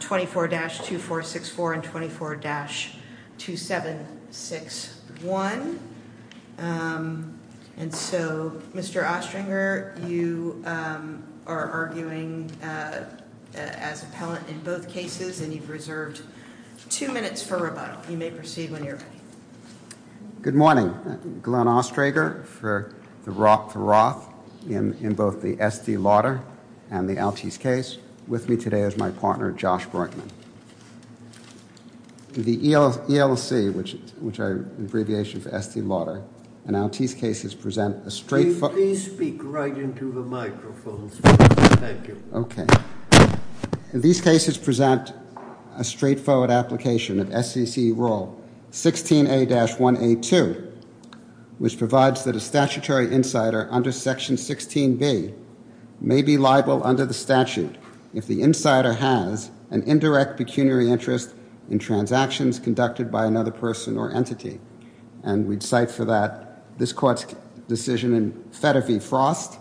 24-2464 and 24-2761 and so Mr. Oestringer you are arguing as appellant in both cases and you've reserved two minutes for rebuttal you may proceed when you're ready. Good morning Glenn Oestringer for the Roth in both the Estee Lauder and the Altice case with me today as my partner Josh Borkman. The ELC which is which I abbreviation for Estee Lauder and Altice cases present a straight forward. Please speak right into the microphone. Okay these cases present a straightforward application of SEC rule 16A-1A2 which provides that a has an indirect pecuniary interest in transactions conducted by another person or entity and we'd cite for that this court's decision in Fetter v. Frost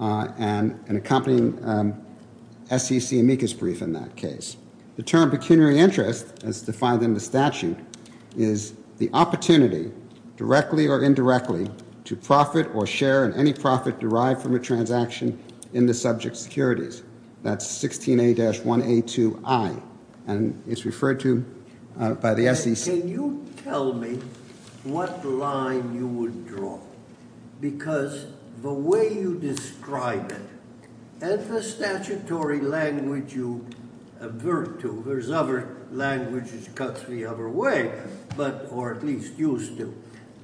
and an accompanying SEC amicus brief in that case. The term pecuniary interest as defined in the statute is the opportunity directly or indirectly to profit or share in any profit derived from a transaction in the subject securities that's 16A-1A2I and it's referred to by the SEC. Can you tell me what line you would draw because the way you describe it and the statutory language you avert to there's other languages cuts the other way but or at least used to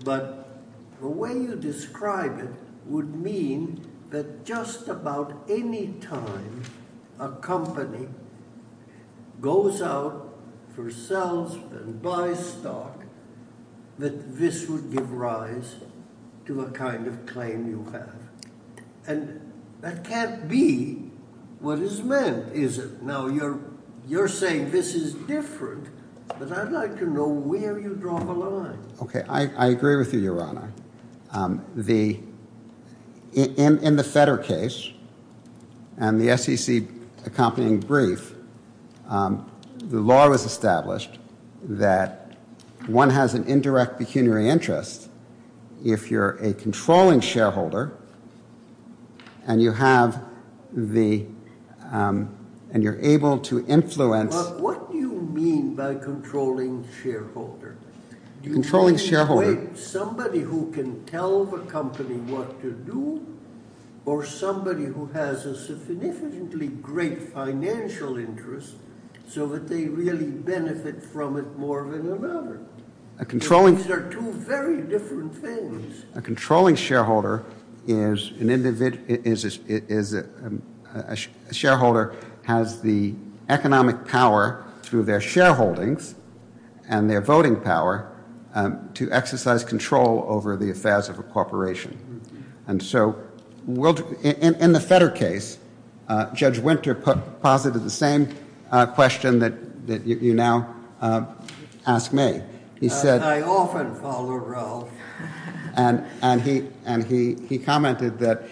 but the way you describe it would mean that just about any time a company goes out for sales and buy stock that this would give rise to a kind of claim you have and that can't be what is meant is it? Now you're you're saying this is different but I'd like to know where you draw the line. Okay I agree with you your honor the in the Fetter case and the SEC accompanying brief the law was established that one has an indirect pecuniary interest if you're a controlling shareholder and you have the and you're able to influence. What do you mean by controlling shareholder? Controlling shareholder. Somebody who can tell the company what to do or somebody who has a significantly great financial interest so that they really benefit from it more than another. A controlling. These are two very different things. A controlling shareholder is an individual is a shareholder has the economic power through their shareholdings and their voting power to exercise control over the affairs of a corporation and so in the Fetter case Judge Winter put posited the same question that you now ask me. I often follow Ralph. And he and he he commented that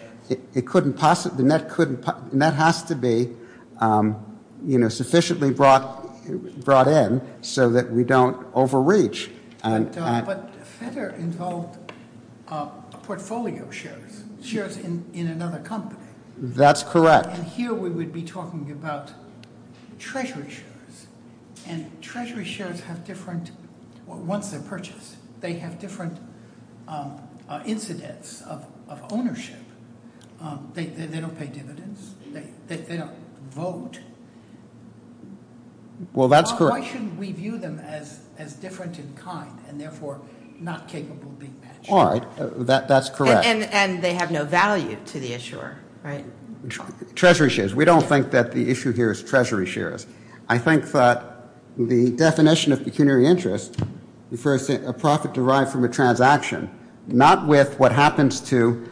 it couldn't possibly net couldn't net has to be you know sufficiently brought brought in so that we don't overreach. But Fetter involved portfolio shares. Shares in another company. That's correct. And here we would be talking about treasury shares and treasury shares have different once they're purchased. They have different incidents of ownership. They don't pay dividends. They don't vote. Well that's correct. Why shouldn't we view them as different in kind and therefore not capable of being matched? All right. That's correct. And they have no value to the issuer right? Treasury shares. We don't think that the issue here is treasury shares. I think that the definition of pecuniary interest refers to a profit derived from a transaction. Not with what happens to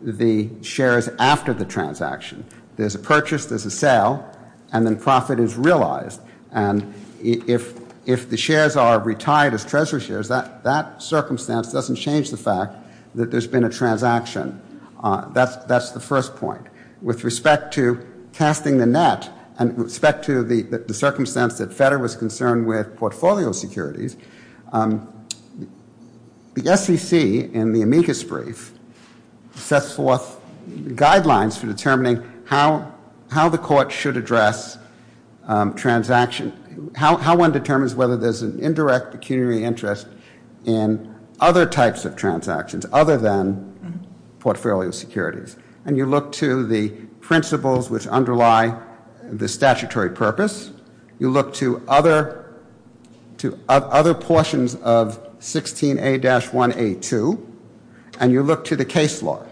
the shares after the transaction. There's a purchase. There's a sale. And then profit is realized. And if if the shares are retired as treasury shares that that circumstance doesn't change the fact that there's been a transaction. That's that's the first point. With respect to casting the net and respect to the circumstance that Fetter was concerned with portfolio securities. The SEC in the amicus brief sets forth guidelines for determining how how the SEC should address transaction. How one determines whether there's an indirect pecuniary interest in other types of transactions other than portfolio securities. And you look to the principles which underlie the statutory purpose. You look to other to other portions of 16A-1A2 and you look to the case law.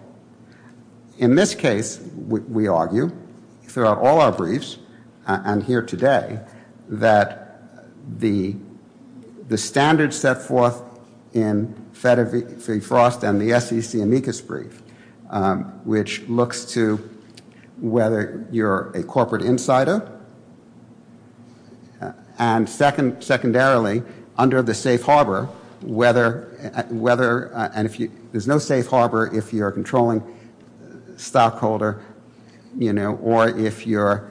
In this case we argue throughout all of our briefs and here today that the the standards set forth in Fetter v Frost and the SEC amicus brief which looks to whether you're a corporate insider and second secondarily under the safe harbor whether whether and if you there's no safe harbor if you're a controlling stockholder you know or if you're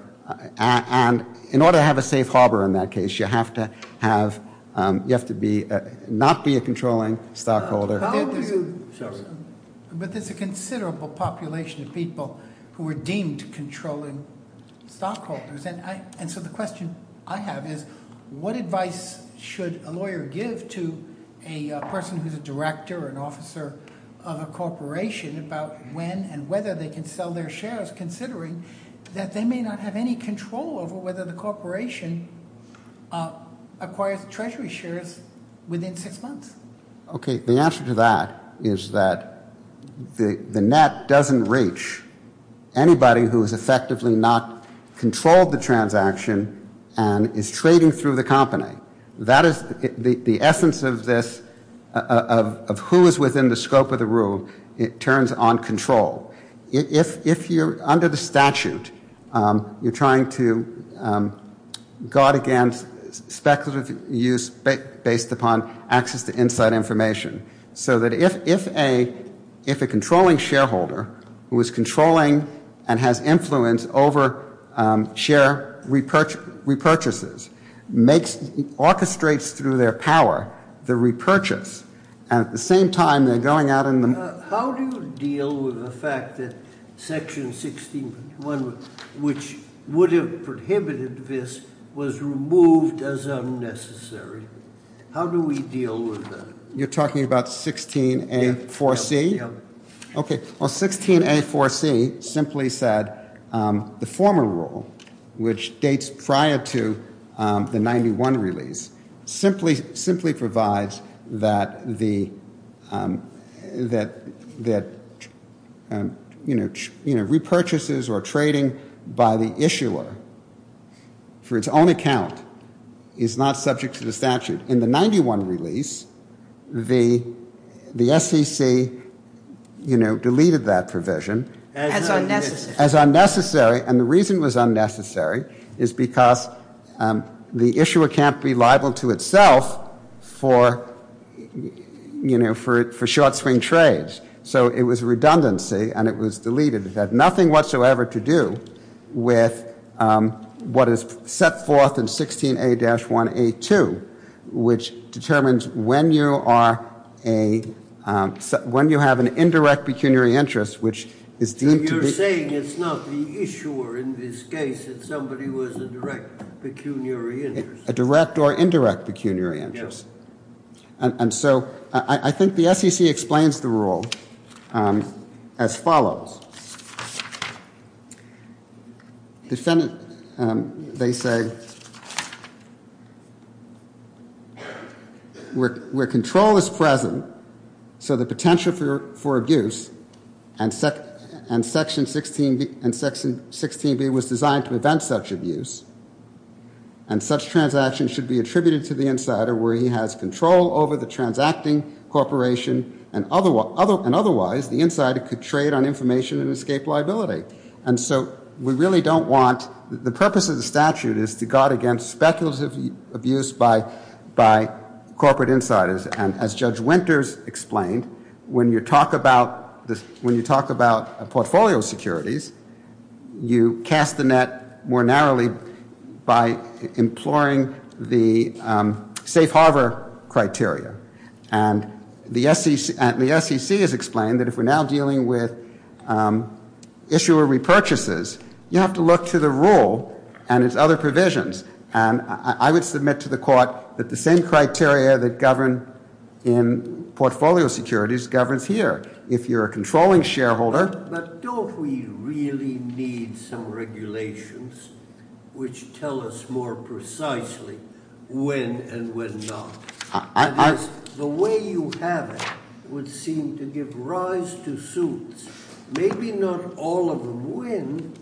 and in order to have a safe harbor in that case you have to have you have to be not be a controlling stockholder. But there's a considerable population of people who are deemed controlling stockholders. And so the question I have is what advice should a lawyer give to a person who's a director or an officer of a corporation about when and whether they can sell their shares considering that they may not have any control over whether the corporation acquires treasury shares within six months. Okay the answer to that is that the net doesn't reach anybody who is effectively not controlled the transaction and is trading through the company. That is the essence of this of who is within the scope of the rule. It turns on control. If if you're under the statute you're trying to guard against speculative use but based upon access to inside information so that if if a if a controlling shareholder who is controlling and has influence over share repurchase repurchases makes orchestrates through their power the repurchase at the same time they're going out in the. How do you deal with the fact that section 16 which would have prohibited this was removed as unnecessary. How do we deal with that. You're talking about 16A4C. Yeah. As unnecessary and the reason was unnecessary is because the issuer can't be liable to itself for you know for it for short swing trades. So it was redundancy and it was deleted. It had nothing whatsoever to do with what is set forth in 16A-1A2 which determines when you are a when you have an indirect pecuniary interest which is deemed to be. You're saying it's not the issuer in this case it's somebody who has a direct pecuniary interest. A direct or indirect pecuniary interest. And so I think the SEC explains the rule as follows. Defendant they say where control is present so the potential for abuse and section 16B was designed to prevent such abuse and such transaction should be attributed to the insider where he has control over the transacting corporation and otherwise the insider could trade on information and escape liability. And so we really don't want the purpose of the statute is to guard against speculative abuse by corporate insiders and as Judge Winters explained when you talk about when you talk about portfolio securities you cast the net more narrowly by imploring the safe harbor criteria. And the SEC has explained that if we're now dealing with issuer repurchases you have to look to the rule and its other provisions. And I would submit to the court that the same criteria that govern in portfolio securities governs here. If you're a controlling shareholder. But don't we really need some regulations which tell us more precisely when and when not. The way you have it would seem to give rise to suits. Maybe not all of them win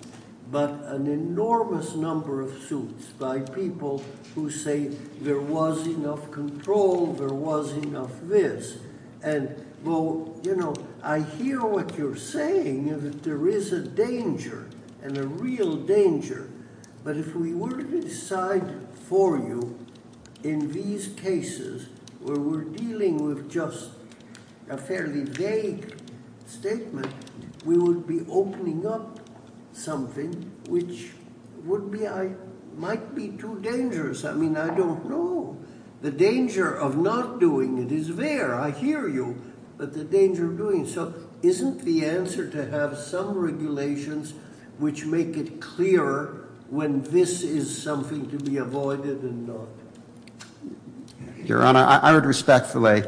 but an enormous number of suits by people who say there was enough control, there was enough this. And well you know I hear what you're saying that there is a danger and a real danger. But if we were to decide for you in these cases where we're dealing with just a fairly vague statement we would be opening up something which would be I might be too dangerous. I mean I don't know. The danger of not doing it is there. I hear you but the danger of doing it. So isn't the answer to have some regulations which make it clearer when this is something to be avoided and not. Your Honor I would respectfully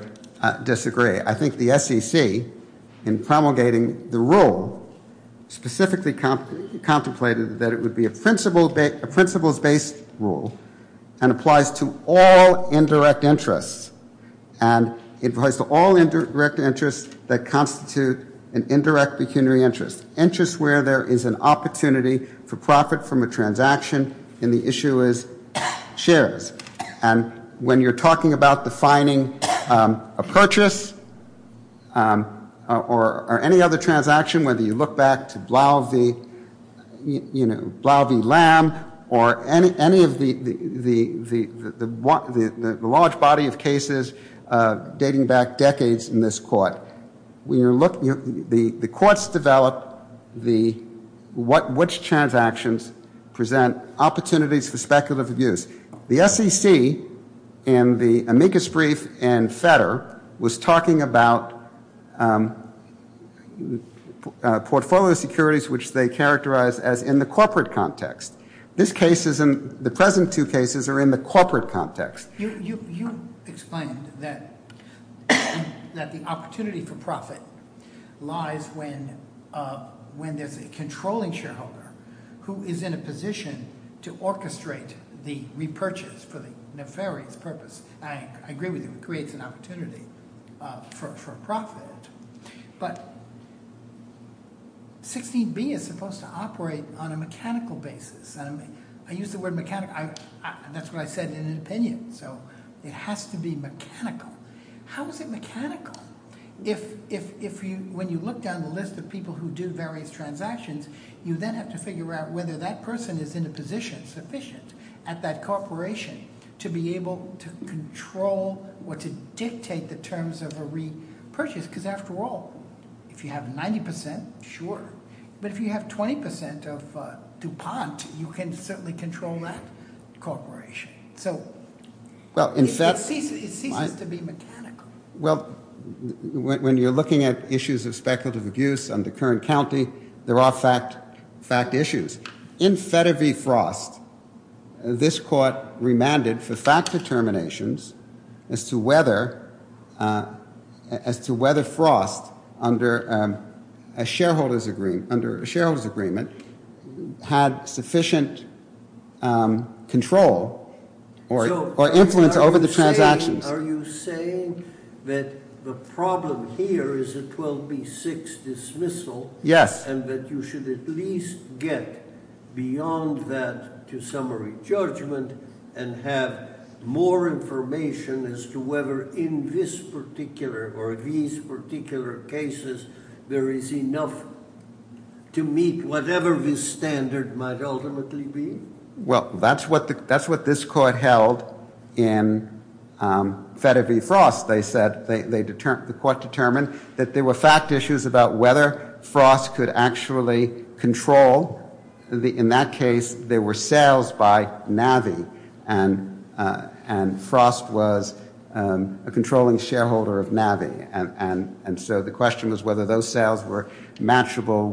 disagree. I think the SEC in promulgating the rule specifically contemplated that it would be a principles based rule. And applies to all indirect interests. And it applies to all indirect interests that constitute an indirect pecuniary interest. Interests where there is an opportunity for profit from a transaction and the issue is shares. And when you're talking about defining a purchase or any other transaction whether you look back to Blau v. Lamb or any of the large body of cases dating back decades in this court. The courts developed which transactions present opportunities for speculative abuse. The SEC in the amicus brief and Fetter was talking about portfolio securities which they characterized as in the corporate context. This case is in the present two cases are in the corporate context. You explained that the opportunity for profit lies when there's a controlling shareholder who is in a position to orchestrate the repurchase for the nefarious purpose. I agree with you it creates an opportunity for profit. But 16B is supposed to operate on a mechanical basis. I use the word mechanical that's what I said in an opinion. So it has to be mechanical. How is it mechanical? If when you look down the list of people who do various transactions you then have to figure out whether that person is in a position sufficient at that corporation to be able to control or to dictate the terms of a repurchase. Because after all if you have 90% sure but if you have 20% of DuPont you can certainly control that corporation. So it ceases to be mechanical. Well when you're looking at issues of speculative abuse on the current county there are fact issues. In Fetter v. Frost this court remanded for fact determinations as to whether Frost under a shareholder's agreement had sufficient control or influence over the transactions. Are you saying that the problem here is a 12B6 dismissal? Yes. And that you should at least get beyond that to summary judgment and have more information as to whether in this particular or these particular cases there is enough to meet whatever this standard might ultimately be? Well that's what this court held in Fetter v. Frost. They said the court determined that there were fact issues about whether Frost could actually control. In that case there were sales by Navi and Frost was a controlling shareholder of Navi. And so the question was whether those sales were matchable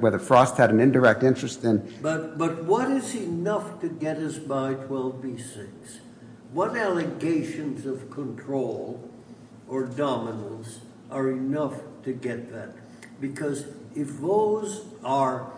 whether Frost had an indirect interest in. But what is enough to get us by 12B6? What allegations of control or dominance are enough to get that? Because if those are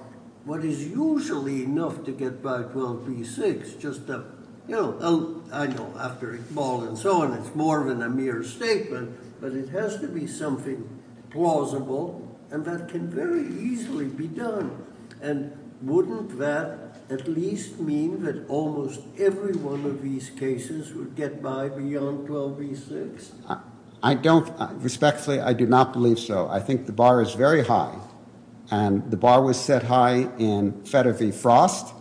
what is usually enough to get by 12B6 just you know I know after Iqbal and so on it's more than a mere statement but it has to be something plausible and that can very easily be done. And wouldn't that at least mean that almost every one of these cases would get by beyond 12B6? I don't respectfully I do not believe so. I think the bar is very high and the bar was set high in Fetter v. Frost.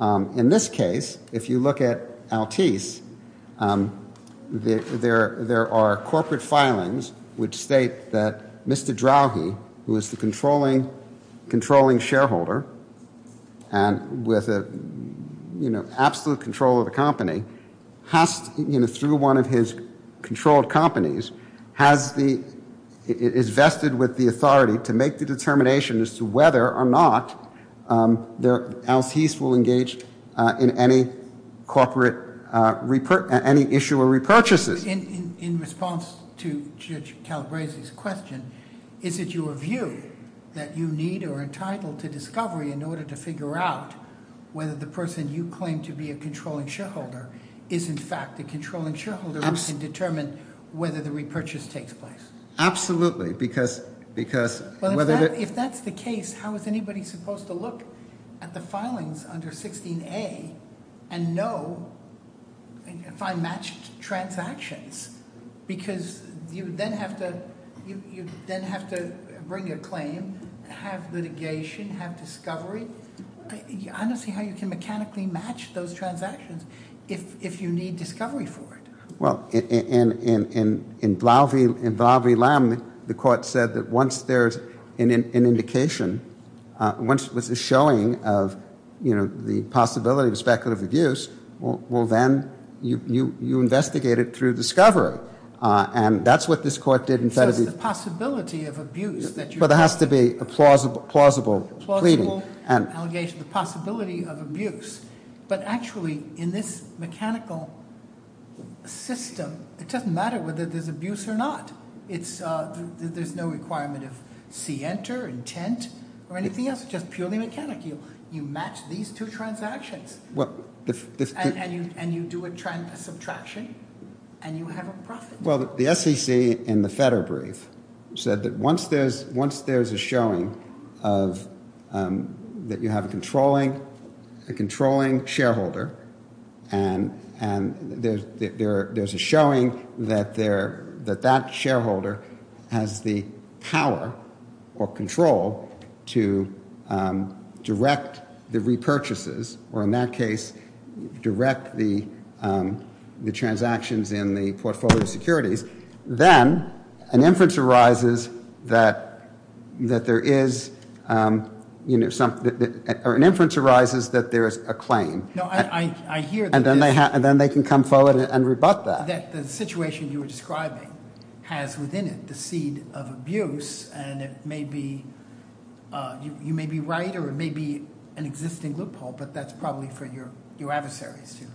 In this case if you look at Altice there are corporate filings which state that Mr. Drowhe who is the controlling shareholder. And with a you know absolute control of the company has you know through one of his controlled companies has the is vested with the authority to make the determination as to whether or not Altice will engage in any corporate any issue or repurchases. So in response to Judge Calabresi's question is it your view that you need or are entitled to discovery in order to figure out whether the person you claim to be a controlling shareholder is in fact a controlling shareholder who can determine whether the repurchase takes place? Absolutely. Because if that's the case how is anybody supposed to look at the filings under 16A and know if I match transactions? Because you then have to bring your claim, have litigation, have discovery. I don't see how you can mechanically match those transactions if you need discovery for it. Well in Blau v. Lamb the court said that once there's an indication, once there's a showing of you know the possibility of speculative abuse, well then you investigate it through discovery. And that's what this court did in Fetter v. So it's the possibility of abuse that you're talking about. Well there has to be a plausible pleading. The possibility of abuse. But actually in this mechanical system it doesn't matter whether there's abuse or not. There's no requirement of see enter, intent or anything else. It's just purely mechanical. You match these two transactions and you do a subtraction and you have a profit. Well the SEC in the Fetter brief said that once there's a showing that you have a controlling shareholder and there's a showing that that shareholder has the power or control to direct the repurchases. Or in that case direct the transactions in the portfolio securities. Then an inference arises that there is a claim. And then they can come forward and rebut that. That the situation you were describing has within it the seed of abuse and it may be, you may be right or it may be an existing loophole but that's probably for your adversaries too.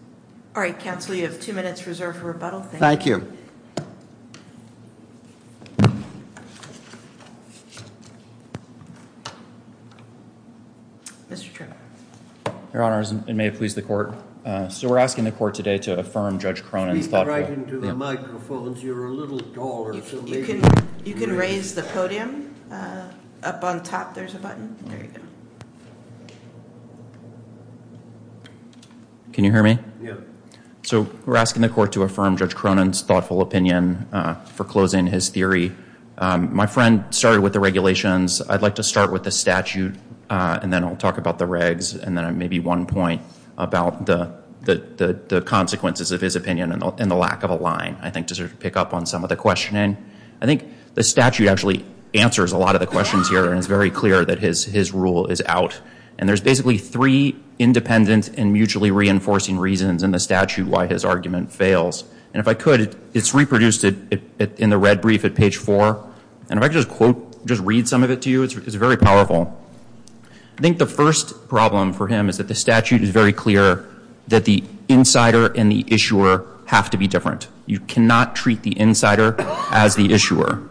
All right counsel you have two minutes reserved for rebuttal. Thank you. Mr. Tripp. Your honors it may please the court. So we're asking the court today to affirm Judge Cronin's thoughtful. Speak right into the microphones. You're a little taller. You can raise the podium. Up on top there's a button. There you go. Can you hear me? Yeah. So we're asking the court to affirm Judge Cronin's thoughtful opinion for closing his theory. My friend started with the regulations. I'd like to start with the statute and then I'll talk about the regs and then maybe one point about the consequences of his opinion and the lack of a line. I think to sort of pick up on some of the questioning. I think the statute actually answers a lot of the questions here and it's very clear that his rule is out. And there's basically three independent and mutually reinforcing reasons in the statute why his argument fails. And if I could it's reproduced in the red brief at page four. And if I could just quote, just read some of it to you. It's very powerful. I think the first problem for him is that the statute is very clear that the insider and the issuer have to be different. You cannot treat the insider as the issuer.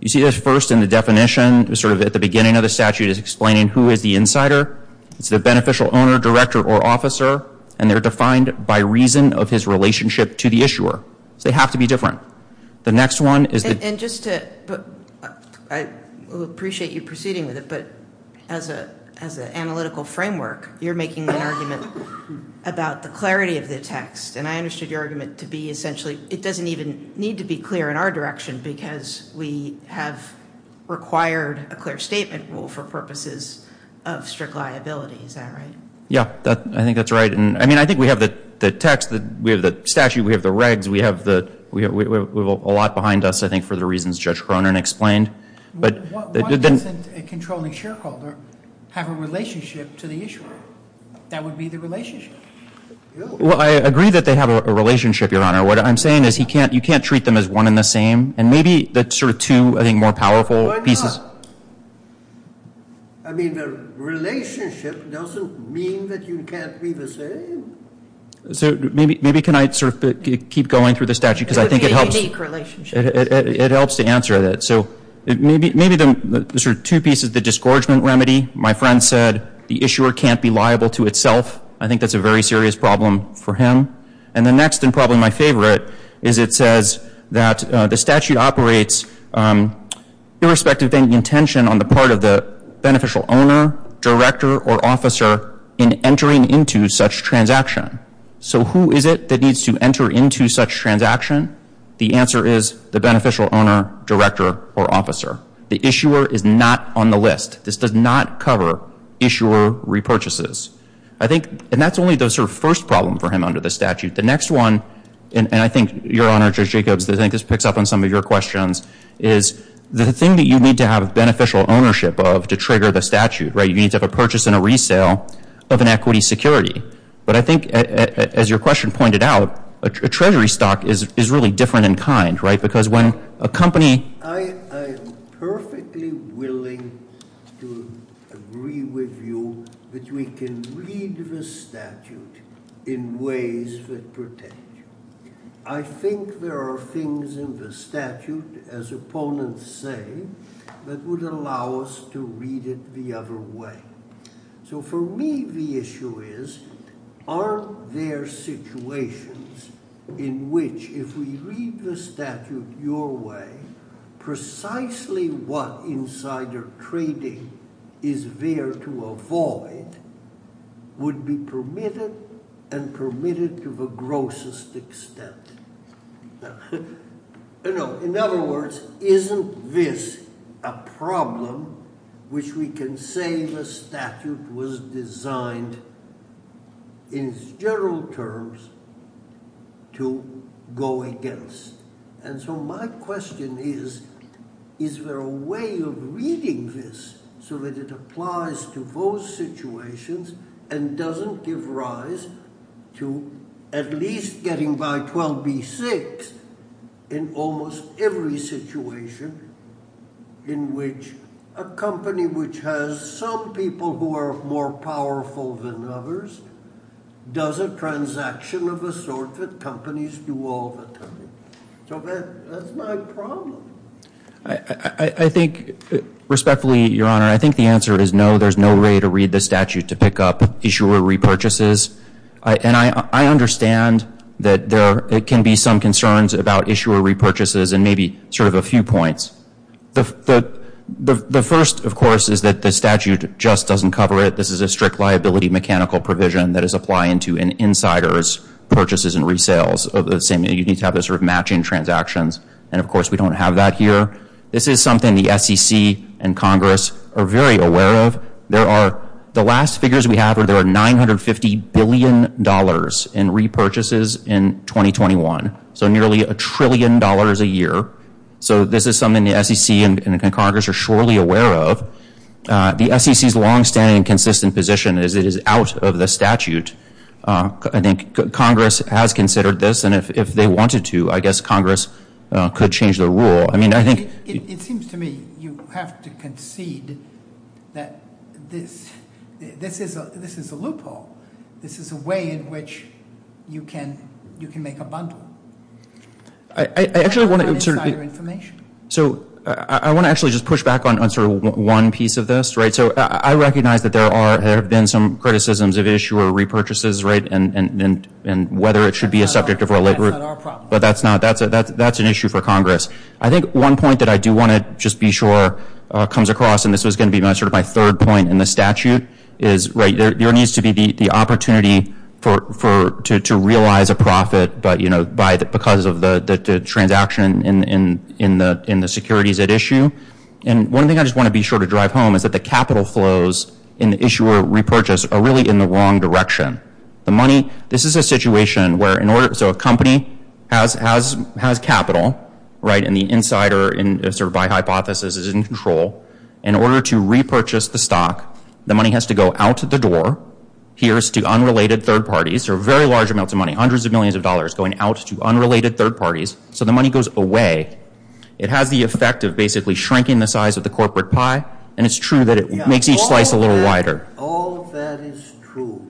You see this first in the definition sort of at the beginning of the statute is explaining who is the insider. It's the beneficial owner, director, or officer. And they're defined by reason of his relationship to the issuer. So they have to be different. The next one is the- And just to, I appreciate you proceeding with it, but as an analytical framework, you're making an argument about the clarity of the text. And I understood your argument to be essentially it doesn't even need to be clear in our direction because we have required a clear statement rule for purposes of strict liability. Is that right? Yeah, I think that's right. I mean, I think we have the text, we have the statute, we have the regs, we have a lot behind us, I think, for the reasons Judge Cronin explained. Why doesn't a controlling shareholder have a relationship to the issuer? That would be the relationship. Well, I agree that they have a relationship, Your Honor. What I'm saying is you can't treat them as one and the same. And maybe that's sort of two, I think, more powerful pieces. I mean, the relationship doesn't mean that you can't be the same. So maybe can I sort of keep going through the statute because I think it helps. It would be a unique relationship. It helps to answer that. So maybe the sort of two pieces, the disgorgement remedy. My friend said the issuer can't be liable to itself. I think that's a very serious problem for him. And the next and probably my favorite is it says that the statute operates irrespective of any intention on the part of the beneficial owner, director, or officer in entering into such transaction. So who is it that needs to enter into such transaction? The answer is the beneficial owner, director, or officer. The issuer is not on the list. This does not cover issuer repurchases. And that's only the sort of first problem for him under the statute. The next one, and I think, Your Honor, Judge Jacobs, I think this picks up on some of your questions, is the thing that you need to have beneficial ownership of to trigger the statute. You need to have a purchase and a resale of an equity security. But I think, as your question pointed out, a treasury stock is really different in kind. Because when a company – I am perfectly willing to agree with you that we can read the statute in ways that protect you. I think there are things in the statute, as opponents say, that would allow us to read it the other way. So for me, the issue is, aren't there situations in which if we read the statute your way, precisely what insider trading is there to avoid would be permitted and permitted to the grossest extent. In other words, isn't this a problem which we can say the statute was designed, in general terms, to go against. And so my question is, is there a way of reading this so that it applies to those situations and doesn't give rise to at least getting by 12B6 in almost every situation in which a company which has some people who are more powerful than others does a transaction of a sort that companies do all the time. So that's my problem. I think, respectfully, Your Honor, I think the answer is no. There's no way to read the statute to pick up issuer repurchases. And I understand that there can be some concerns about issuer repurchases and maybe sort of a few points. The first, of course, is that the statute just doesn't cover it. This is a strict liability mechanical provision that is applying to an insider's purchases and resales. You need to have those sort of matching transactions. And, of course, we don't have that here. This is something the SEC and Congress are very aware of. The last figures we have are there are $950 billion in repurchases in 2021, so nearly a trillion dollars a year. So this is something the SEC and Congress are surely aware of. The SEC's longstanding and consistent position is it is out of the statute. I think Congress has considered this. And if they wanted to, I guess Congress could change their rule. It seems to me you have to concede that this is a loophole. This is a way in which you can make a bundle of insider information. I want to actually just push back on sort of one piece of this. I recognize that there have been some criticisms of issuer repurchases and whether it should be a subject of related rule. That's not our problem. But that's an issue for Congress. I think one point that I do want to just be sure comes across, and this was going to be sort of my third point in the statute, is there needs to be the opportunity to realize a profit because of the transaction in the securities at issue. And one thing I just want to be sure to drive home is that the capital flows in the issuer repurchase are really in the wrong direction. This is a situation where a company has capital, right, and the insider, sort of by hypothesis, is in control. In order to repurchase the stock, the money has to go out the door. Here's to unrelated third parties. There are very large amounts of money, hundreds of millions of dollars, going out to unrelated third parties. So the money goes away. It has the effect of basically shrinking the size of the corporate pie. And it's true that it makes each slice a little wider. All of that is true.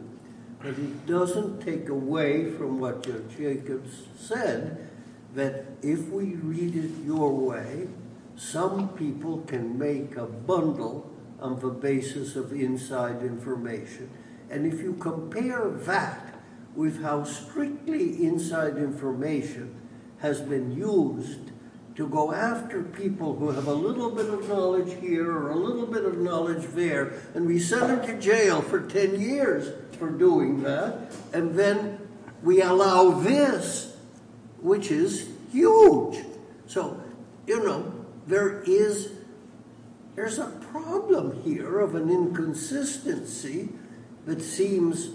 But it doesn't take away from what Jacob said that if we read it your way, some people can make a bundle of the basis of inside information. And if you compare that with how strictly inside information has been used to go after people who have a little bit of knowledge here or a little bit of knowledge there, and we send them to jail for ten years for doing that, and then we allow this, which is huge. So, you know, there is a problem here of an inconsistency that seems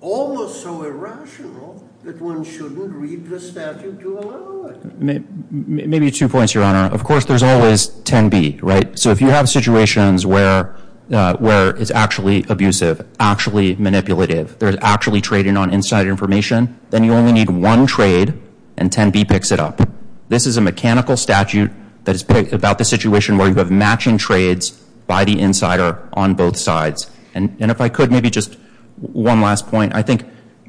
almost so irrational that one shouldn't read the statute to allow it. Maybe two points, Your Honor. Of course, there's always 10B, right? So if you have situations where it's actually abusive, actually manipulative, there's actually trading on inside information, then you only need one trade and 10B picks it up. This is a mechanical statute that is about the situation where you have matching trades by the insider on both sides. And if I could, maybe just one last point. I think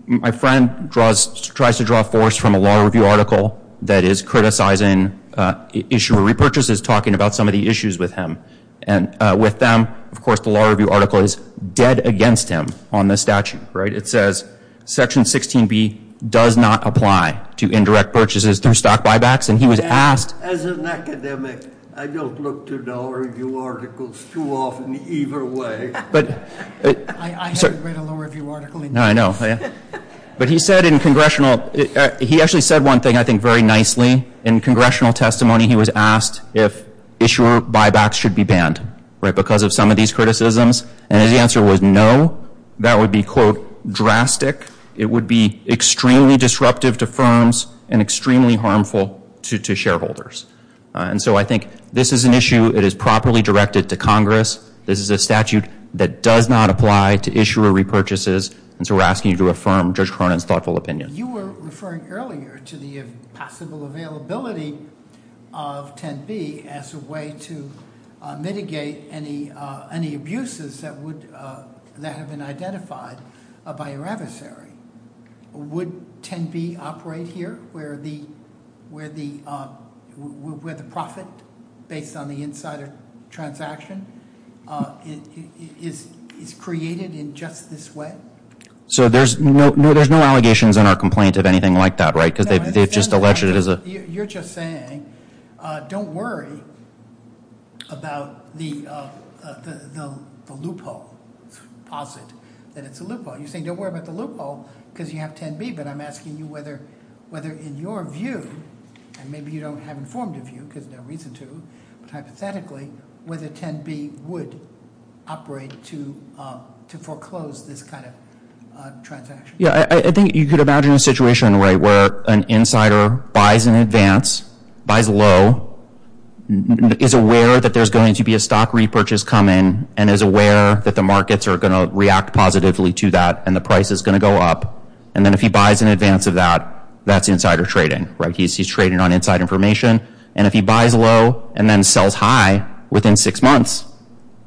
my friend tries to draw force from a law review article that is criticizing issuer repurchases, talking about some of the issues with him. And with them, of course, the law review article is dead against him on the statute, right? It says, Section 16B does not apply to indirect purchases through stock buybacks. And he was asked. As an academic, I don't look to law review articles too often either way. I haven't read a law review article. No, I know. But he said in congressional. He actually said one thing, I think, very nicely. In congressional testimony, he was asked if issuer buybacks should be banned because of some of these criticisms. And his answer was no. That would be, quote, drastic. It would be extremely disruptive to firms and extremely harmful to shareholders. And so I think this is an issue that is properly directed to Congress. This is a statute that does not apply to issuer repurchases. And so we're asking you to affirm Judge Cronin's thoughtful opinion. You were referring earlier to the possible availability of 10B as a way to mitigate any abuses that have been identified by your adversary. Would 10B operate here, where the profit, based on the insider transaction, is created in just this way? So there's no allegations in our complaint of anything like that, right? Because they've just alleged it is a- You're just saying, don't worry about the loophole. Posit that it's a loophole. You're saying, don't worry about the loophole because you have 10B. But I'm asking you whether, in your view, and maybe you don't have informed of you because there's no reason to, but hypothetically, whether 10B would operate to foreclose this kind of transaction. Yeah, I think you could imagine a situation, right, where an insider buys in advance, buys low, is aware that there's going to be a stock repurchase coming, and is aware that the markets are going to react positively to that and the price is going to go up. And then if he buys in advance of that, that's insider trading, right? He's trading on inside information. And if he buys low and then sells high within six months,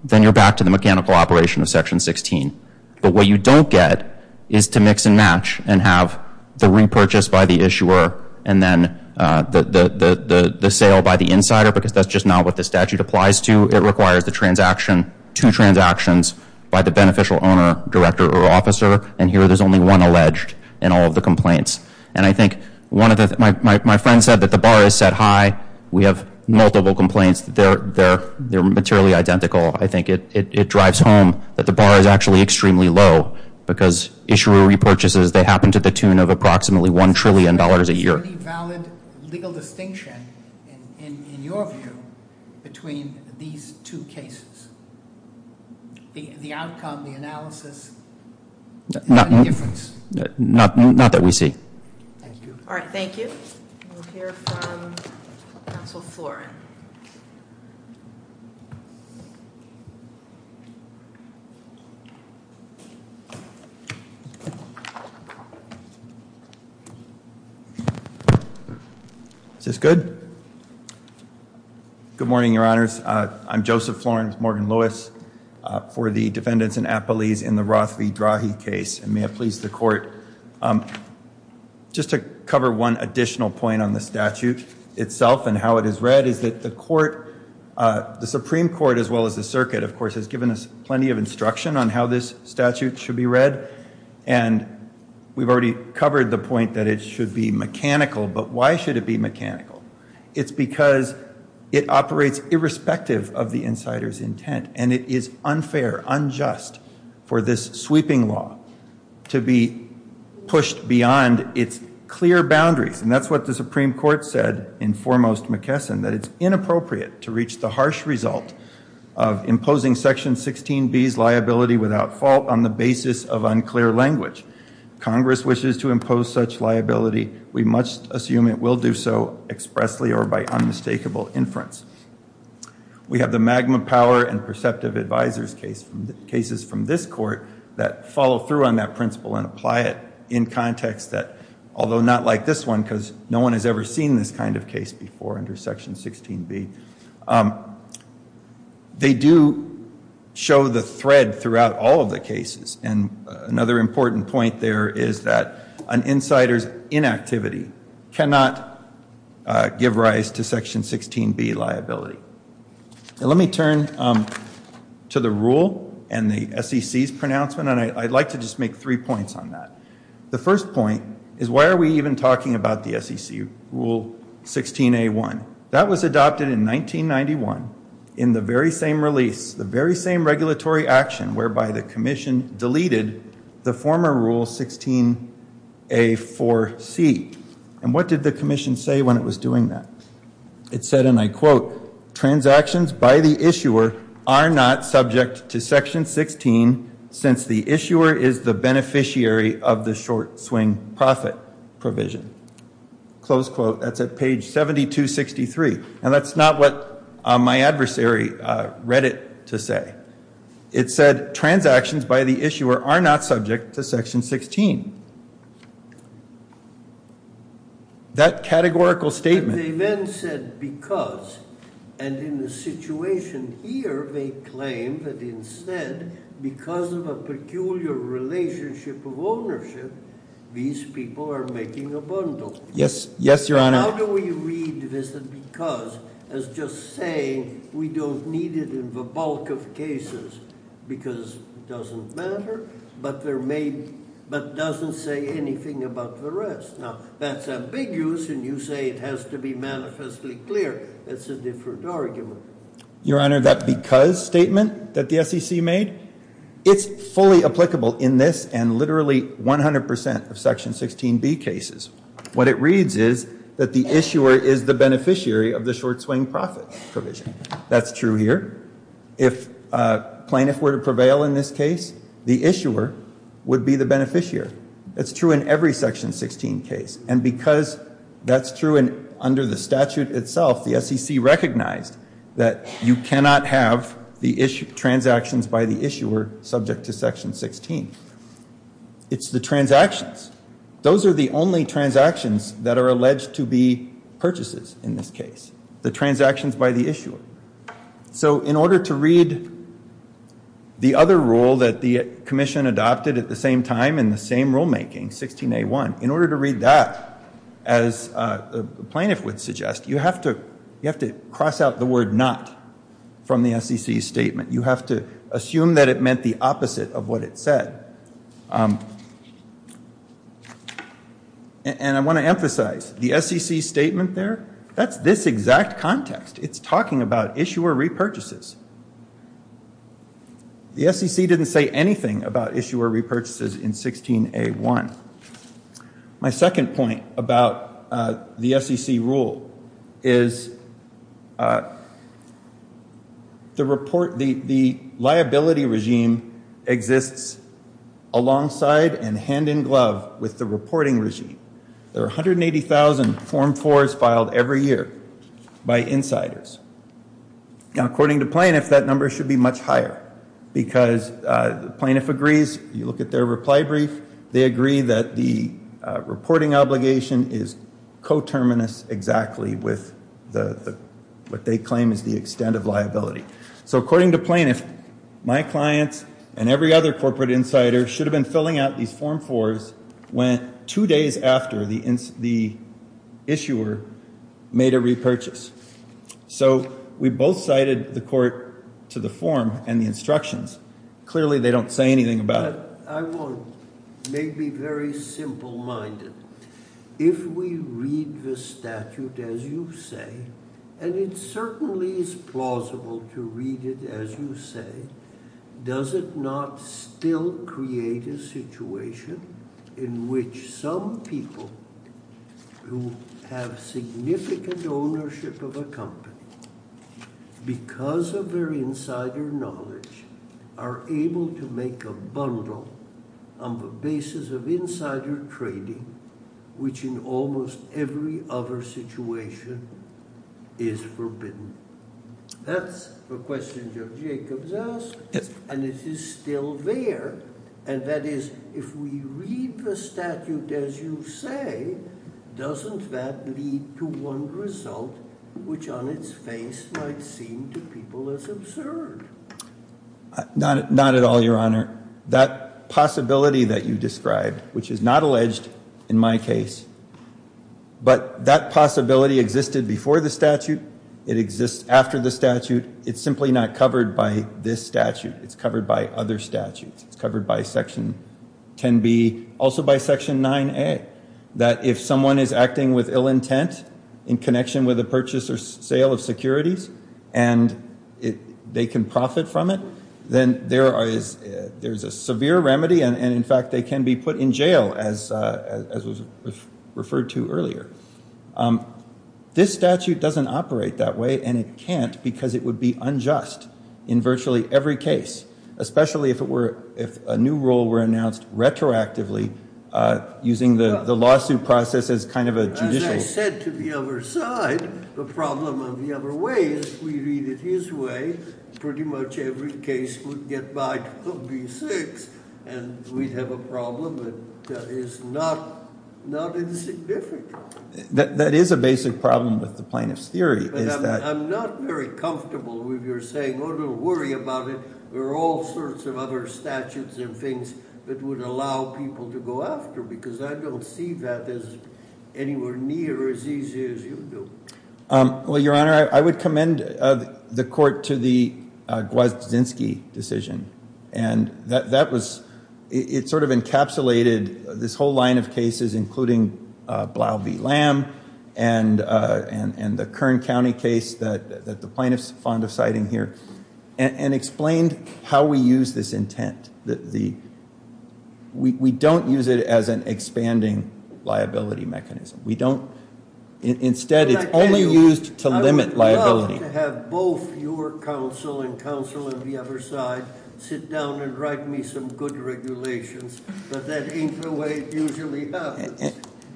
then you're back to the mechanical operation of Section 16. But what you don't get is to mix and match and have the repurchase by the issuer and then the sale by the insider because that's just not what the statute applies to. It requires the transaction, two transactions, by the beneficial owner, director, or officer, and here there's only one alleged in all of the complaints. And I think one of the—my friend said that the bar is set high. We have multiple complaints. They're materially identical. I think it drives home that the bar is actually extremely low because issuer repurchases, they happen to the tune of approximately $1 trillion a year. Is there any valid legal distinction, in your view, between these two cases? The outcome, the analysis, any difference? Not that we see. Thank you. All right, thank you. We'll hear from Counsel Florin. Is this good? Good morning, Your Honors. I'm Joseph Florin, Morgan Lewis, for the defendants in Apolles in the Rothley-Drahe case, and may it please the Court. Just to cover one additional point on the statute itself and how it is read, is that the Supreme Court, as well as the circuit, of course, has given us plenty of instruction on how this statute should be read, and we've already covered the point that it should be mechanical, but why should it be mechanical? It's because it operates irrespective of the insider's intent, and it is unfair, unjust, for this sweeping law to be pushed beyond its clear boundaries, and that's what the Supreme Court said in Foremost McKesson, that it's inappropriate to reach the harsh result of imposing Section 16B's liability without fault on the basis of unclear language. Congress wishes to impose such liability. We must assume it will do so expressly or by unmistakable inference. We have the Magma Power and Perceptive Advisors cases from this court that follow through on that principle and apply it in context that, although not like this one because no one has ever seen this kind of case before under Section 16B, they do show the thread throughout all of the cases, and another important point there is that an insider's inactivity cannot give rise to Section 16B liability. Let me turn to the rule and the SEC's pronouncement, and I'd like to just make three points on that. The first point is why are we even talking about the SEC Rule 16A1? That was adopted in 1991 in the very same release, the very same regulatory action whereby the commission deleted the former Rule 16A4C. And what did the commission say when it was doing that? It said, and I quote, Transactions by the issuer are not subject to Section 16 since the issuer is the beneficiary of the short swing profit provision. Close quote. That's at page 7263. And that's not what my adversary read it to say. It said, Transactions by the issuer are not subject to Section 16. That categorical statement. They then said because, and in the situation here, they claim that instead because of a peculiar relationship of ownership, these people are making a bundle. Yes, Your Honor. How do we read this because as just saying we don't need it in the bulk of cases because it doesn't matter but doesn't say anything about the rest? Now, that's ambiguous, and you say it has to be manifestly clear. That's a different argument. Your Honor, that because statement that the SEC made, it's fully applicable in this and literally 100% of Section 16B cases. What it reads is that the issuer is the beneficiary of the short swing profit provision. That's true here. If plaintiff were to prevail in this case, the issuer would be the beneficiary. That's true in every Section 16 case. And because that's true under the statute itself, the SEC recognized that you cannot have transactions by the issuer subject to Section 16. It's the transactions. Those are the only transactions that are alleged to be purchases in this case, the transactions by the issuer. So in order to read the other rule that the commission adopted at the same time in the same rulemaking, 16A1, in order to read that, as the plaintiff would suggest, you have to cross out the word not from the SEC's statement. You have to assume that it meant the opposite of what it said. And I want to emphasize, the SEC statement there, that's this exact context. It's talking about issuer repurchases. The SEC didn't say anything about issuer repurchases in 16A1. My second point about the SEC rule is the liability regime exists alongside and hand-in-glove with the reporting regime. There are 180,000 Form 4s filed every year by insiders. Now, according to plaintiff, that number should be much higher because the plaintiff agrees. You look at their reply brief, they agree that the reporting obligation is coterminous exactly with what they claim is the extent of liability. So according to plaintiff, my clients and every other corporate insider should have been filling out these Form 4s two days after the issuer made a repurchase. So we both cited the court to the form and the instructions. Clearly, they don't say anything about it. I want to make me very simple-minded. If we read the statute as you say, and it certainly is plausible to read it as you say, does it not still create a situation in which some people who have significant ownership of a company, because of their insider knowledge, are able to make a bundle on the basis of insider trading, which in almost every other situation is forbidden? That's the question that Jacob's asked, and it is still there. And that is, if we read the statute as you say, doesn't that lead to one result, which on its face might seem to people as absurd? Not at all, Your Honor. That possibility that you described, which is not alleged in my case, but that possibility existed before the statute, it exists after the statute, it's simply not covered by this statute. It's covered by other statutes. It's covered by Section 10B, also by Section 9A, that if someone is acting with ill intent in connection with a purchase or sale of securities, and they can profit from it, then there is a severe remedy, and in fact they can be put in jail, as was referred to earlier. This statute doesn't operate that way, and it can't, because it would be unjust in virtually every case, especially if a new rule were announced retroactively, using the lawsuit process as kind of a judicial... As I said to the other side, the problem of the other way is, if we read it his way, pretty much every case would get by 12B6, and we'd have a problem that is not insignificant. That is a basic problem with the plaintiff's theory, is that... I'm not very comfortable with your saying, oh, don't worry about it, there are all sorts of other statutes and things that would allow people to go after, because I don't see that as anywhere near as easy as you do. Well, Your Honor, I would commend the court to the Gwazdzinski decision, and it sort of encapsulated this whole line of cases, including Blau v. Lamb, and the Kern County case that the plaintiffs are fond of citing here, and explained how we use this intent. We don't use it as an expanding liability mechanism. Instead, it's only used to limit liability. I would love to have both your counsel and counsel on the other side sit down and write me some good regulations, but that ain't the way it usually happens.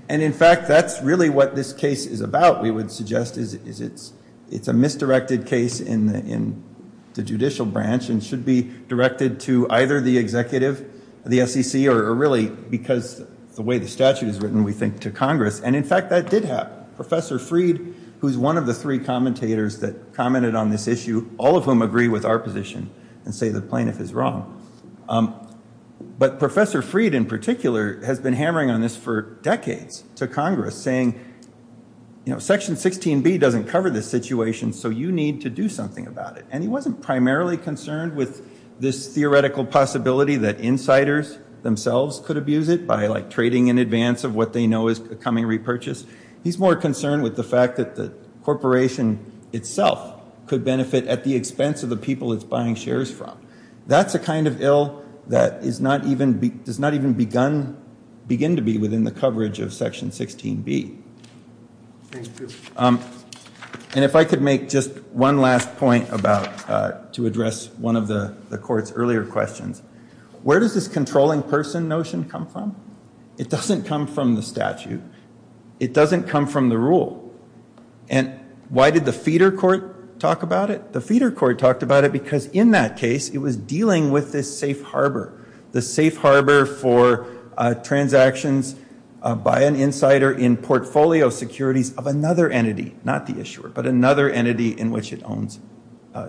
And in fact, that's really what this case is about, we would suggest, is it's a misdirected case in the judicial branch, and should be directed to either the executive, the SEC, or really, because the way the statute is written, we think to Congress. And in fact, that did happen. Professor Freed, who's one of the three commentators that commented on this issue, all of whom agree with our position and say the plaintiff is wrong. But Professor Freed, in particular, has been hammering on this for decades to Congress, saying Section 16B doesn't cover this situation, so you need to do something about it. And he wasn't primarily concerned with this theoretical possibility that insiders themselves could abuse it by, like, trading in advance of what they know is a coming repurchase. He's more concerned with the fact that the corporation itself could benefit at the expense of the people it's buying shares from. That's the kind of ill that does not even begin to be within the coverage of Section 16B. Thank you. And if I could make just one last point to address one of the court's earlier questions. Where does this controlling person notion come from? It doesn't come from the statute. It doesn't come from the rule. And why did the feeder court talk about it? The feeder court talked about it because in that case, it was dealing with this safe harbor, the safe harbor for transactions by an insider in portfolio securities of another entity, not the issuer, but another entity in which it owns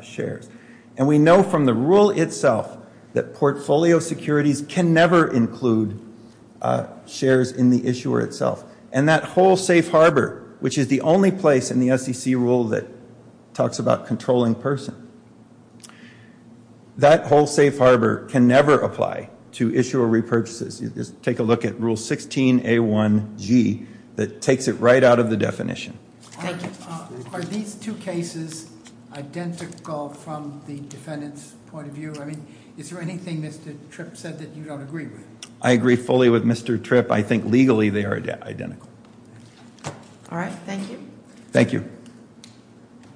shares. And we know from the rule itself that portfolio securities can never include shares in the issuer itself. And that whole safe harbor, which is the only place in the SEC rule that talks about controlling person, that whole safe harbor can never apply to issuer repurchases. Take a look at Rule 16A1G that takes it right out of the definition. Thank you. Are these two cases identical from the defendant's point of view? I mean, is there anything Mr. Tripp said that you don't agree with? I agree fully with Mr. Tripp. I think legally they are identical. All right. Thank you. Thank you.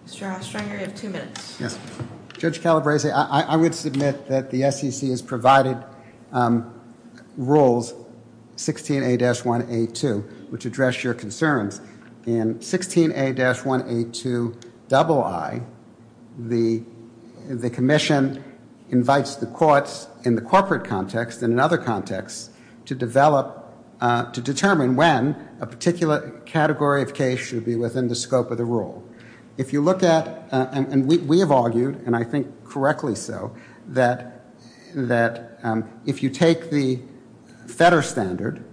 Mr. Hofstranger, you have two minutes. Yes. Judge Calabresi, I would submit that the SEC has provided rules 16A-1A2, which address your concerns. In 16A-1A2II, the commission invites the courts in the corporate context and in other contexts to develop, to determine when a particular category of case should be within the scope of the rule. If you look at, and we have argued, and I think correctly so, that if you take the FEDER standard,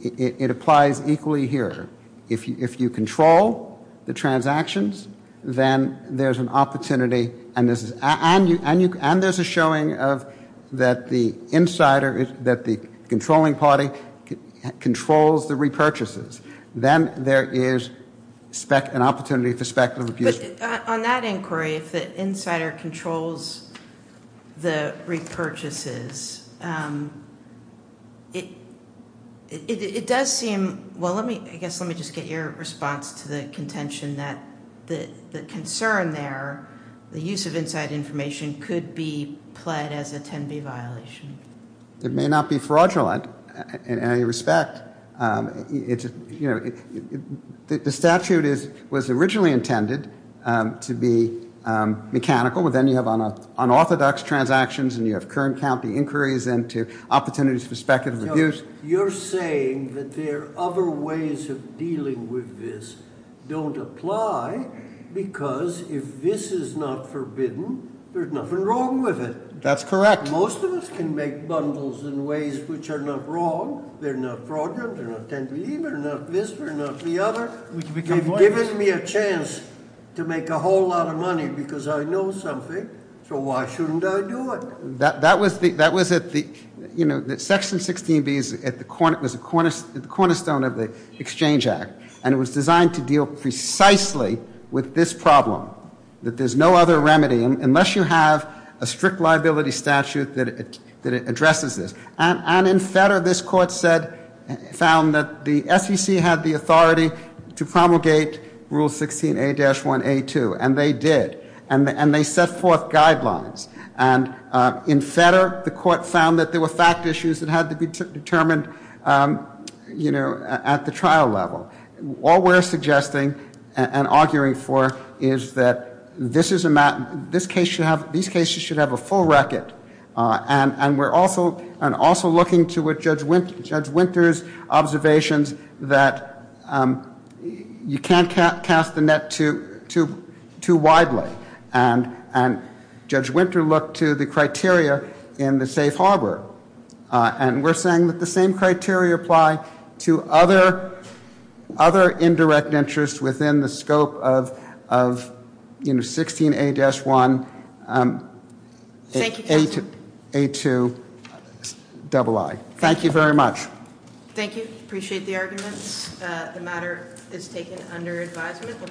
it applies equally here. If you control the transactions, then there's an opportunity, and there's a showing of that the insider, that the controlling party controls the repurchases. Then there is an opportunity for speculative abuse. But on that inquiry, if the insider controls the repurchases, it does seem, well, I guess let me just get your response to the contention that the concern there, the use of inside information, could be pled as a 10B violation. It may not be fraudulent in any respect. The statute was originally intended to be mechanical, but then you have unorthodox transactions and you have current county inquiries into opportunities for speculative abuse. You're saying that there are other ways of dealing with this don't apply because if this is not forbidden, there's nothing wrong with it. That's correct. Most of us can make bundles in ways which are not wrong. They're not fraudulent. They're not 10B. They're not this. They're not the other. They've given me a chance to make a whole lot of money because I know something, so why shouldn't I do it? That was at the, you know, Section 16B was at the cornerstone of the Exchange Act, and it was designed to deal precisely with this problem, that there's no other remedy, unless you have a strict liability statute that addresses this. And in Fedder, this court said, found that the SEC had the authority to promulgate Rule 16A-1A2, and they did. And they set forth guidelines. And in Fedder, the court found that there were fact issues that had to be determined, you know, at the trial level. All we're suggesting and arguing for is that this case should have a full record. And we're also looking to Judge Winter's observations that you can't cast the net too widely. And Judge Winter looked to the criteria in the safe harbor. And we're saying that the same criteria apply to other indirect interests within the scope of, you know, 16A-1A2-II. Thank you very much. Thank you. Appreciate the arguments. The matter is taken under advisement.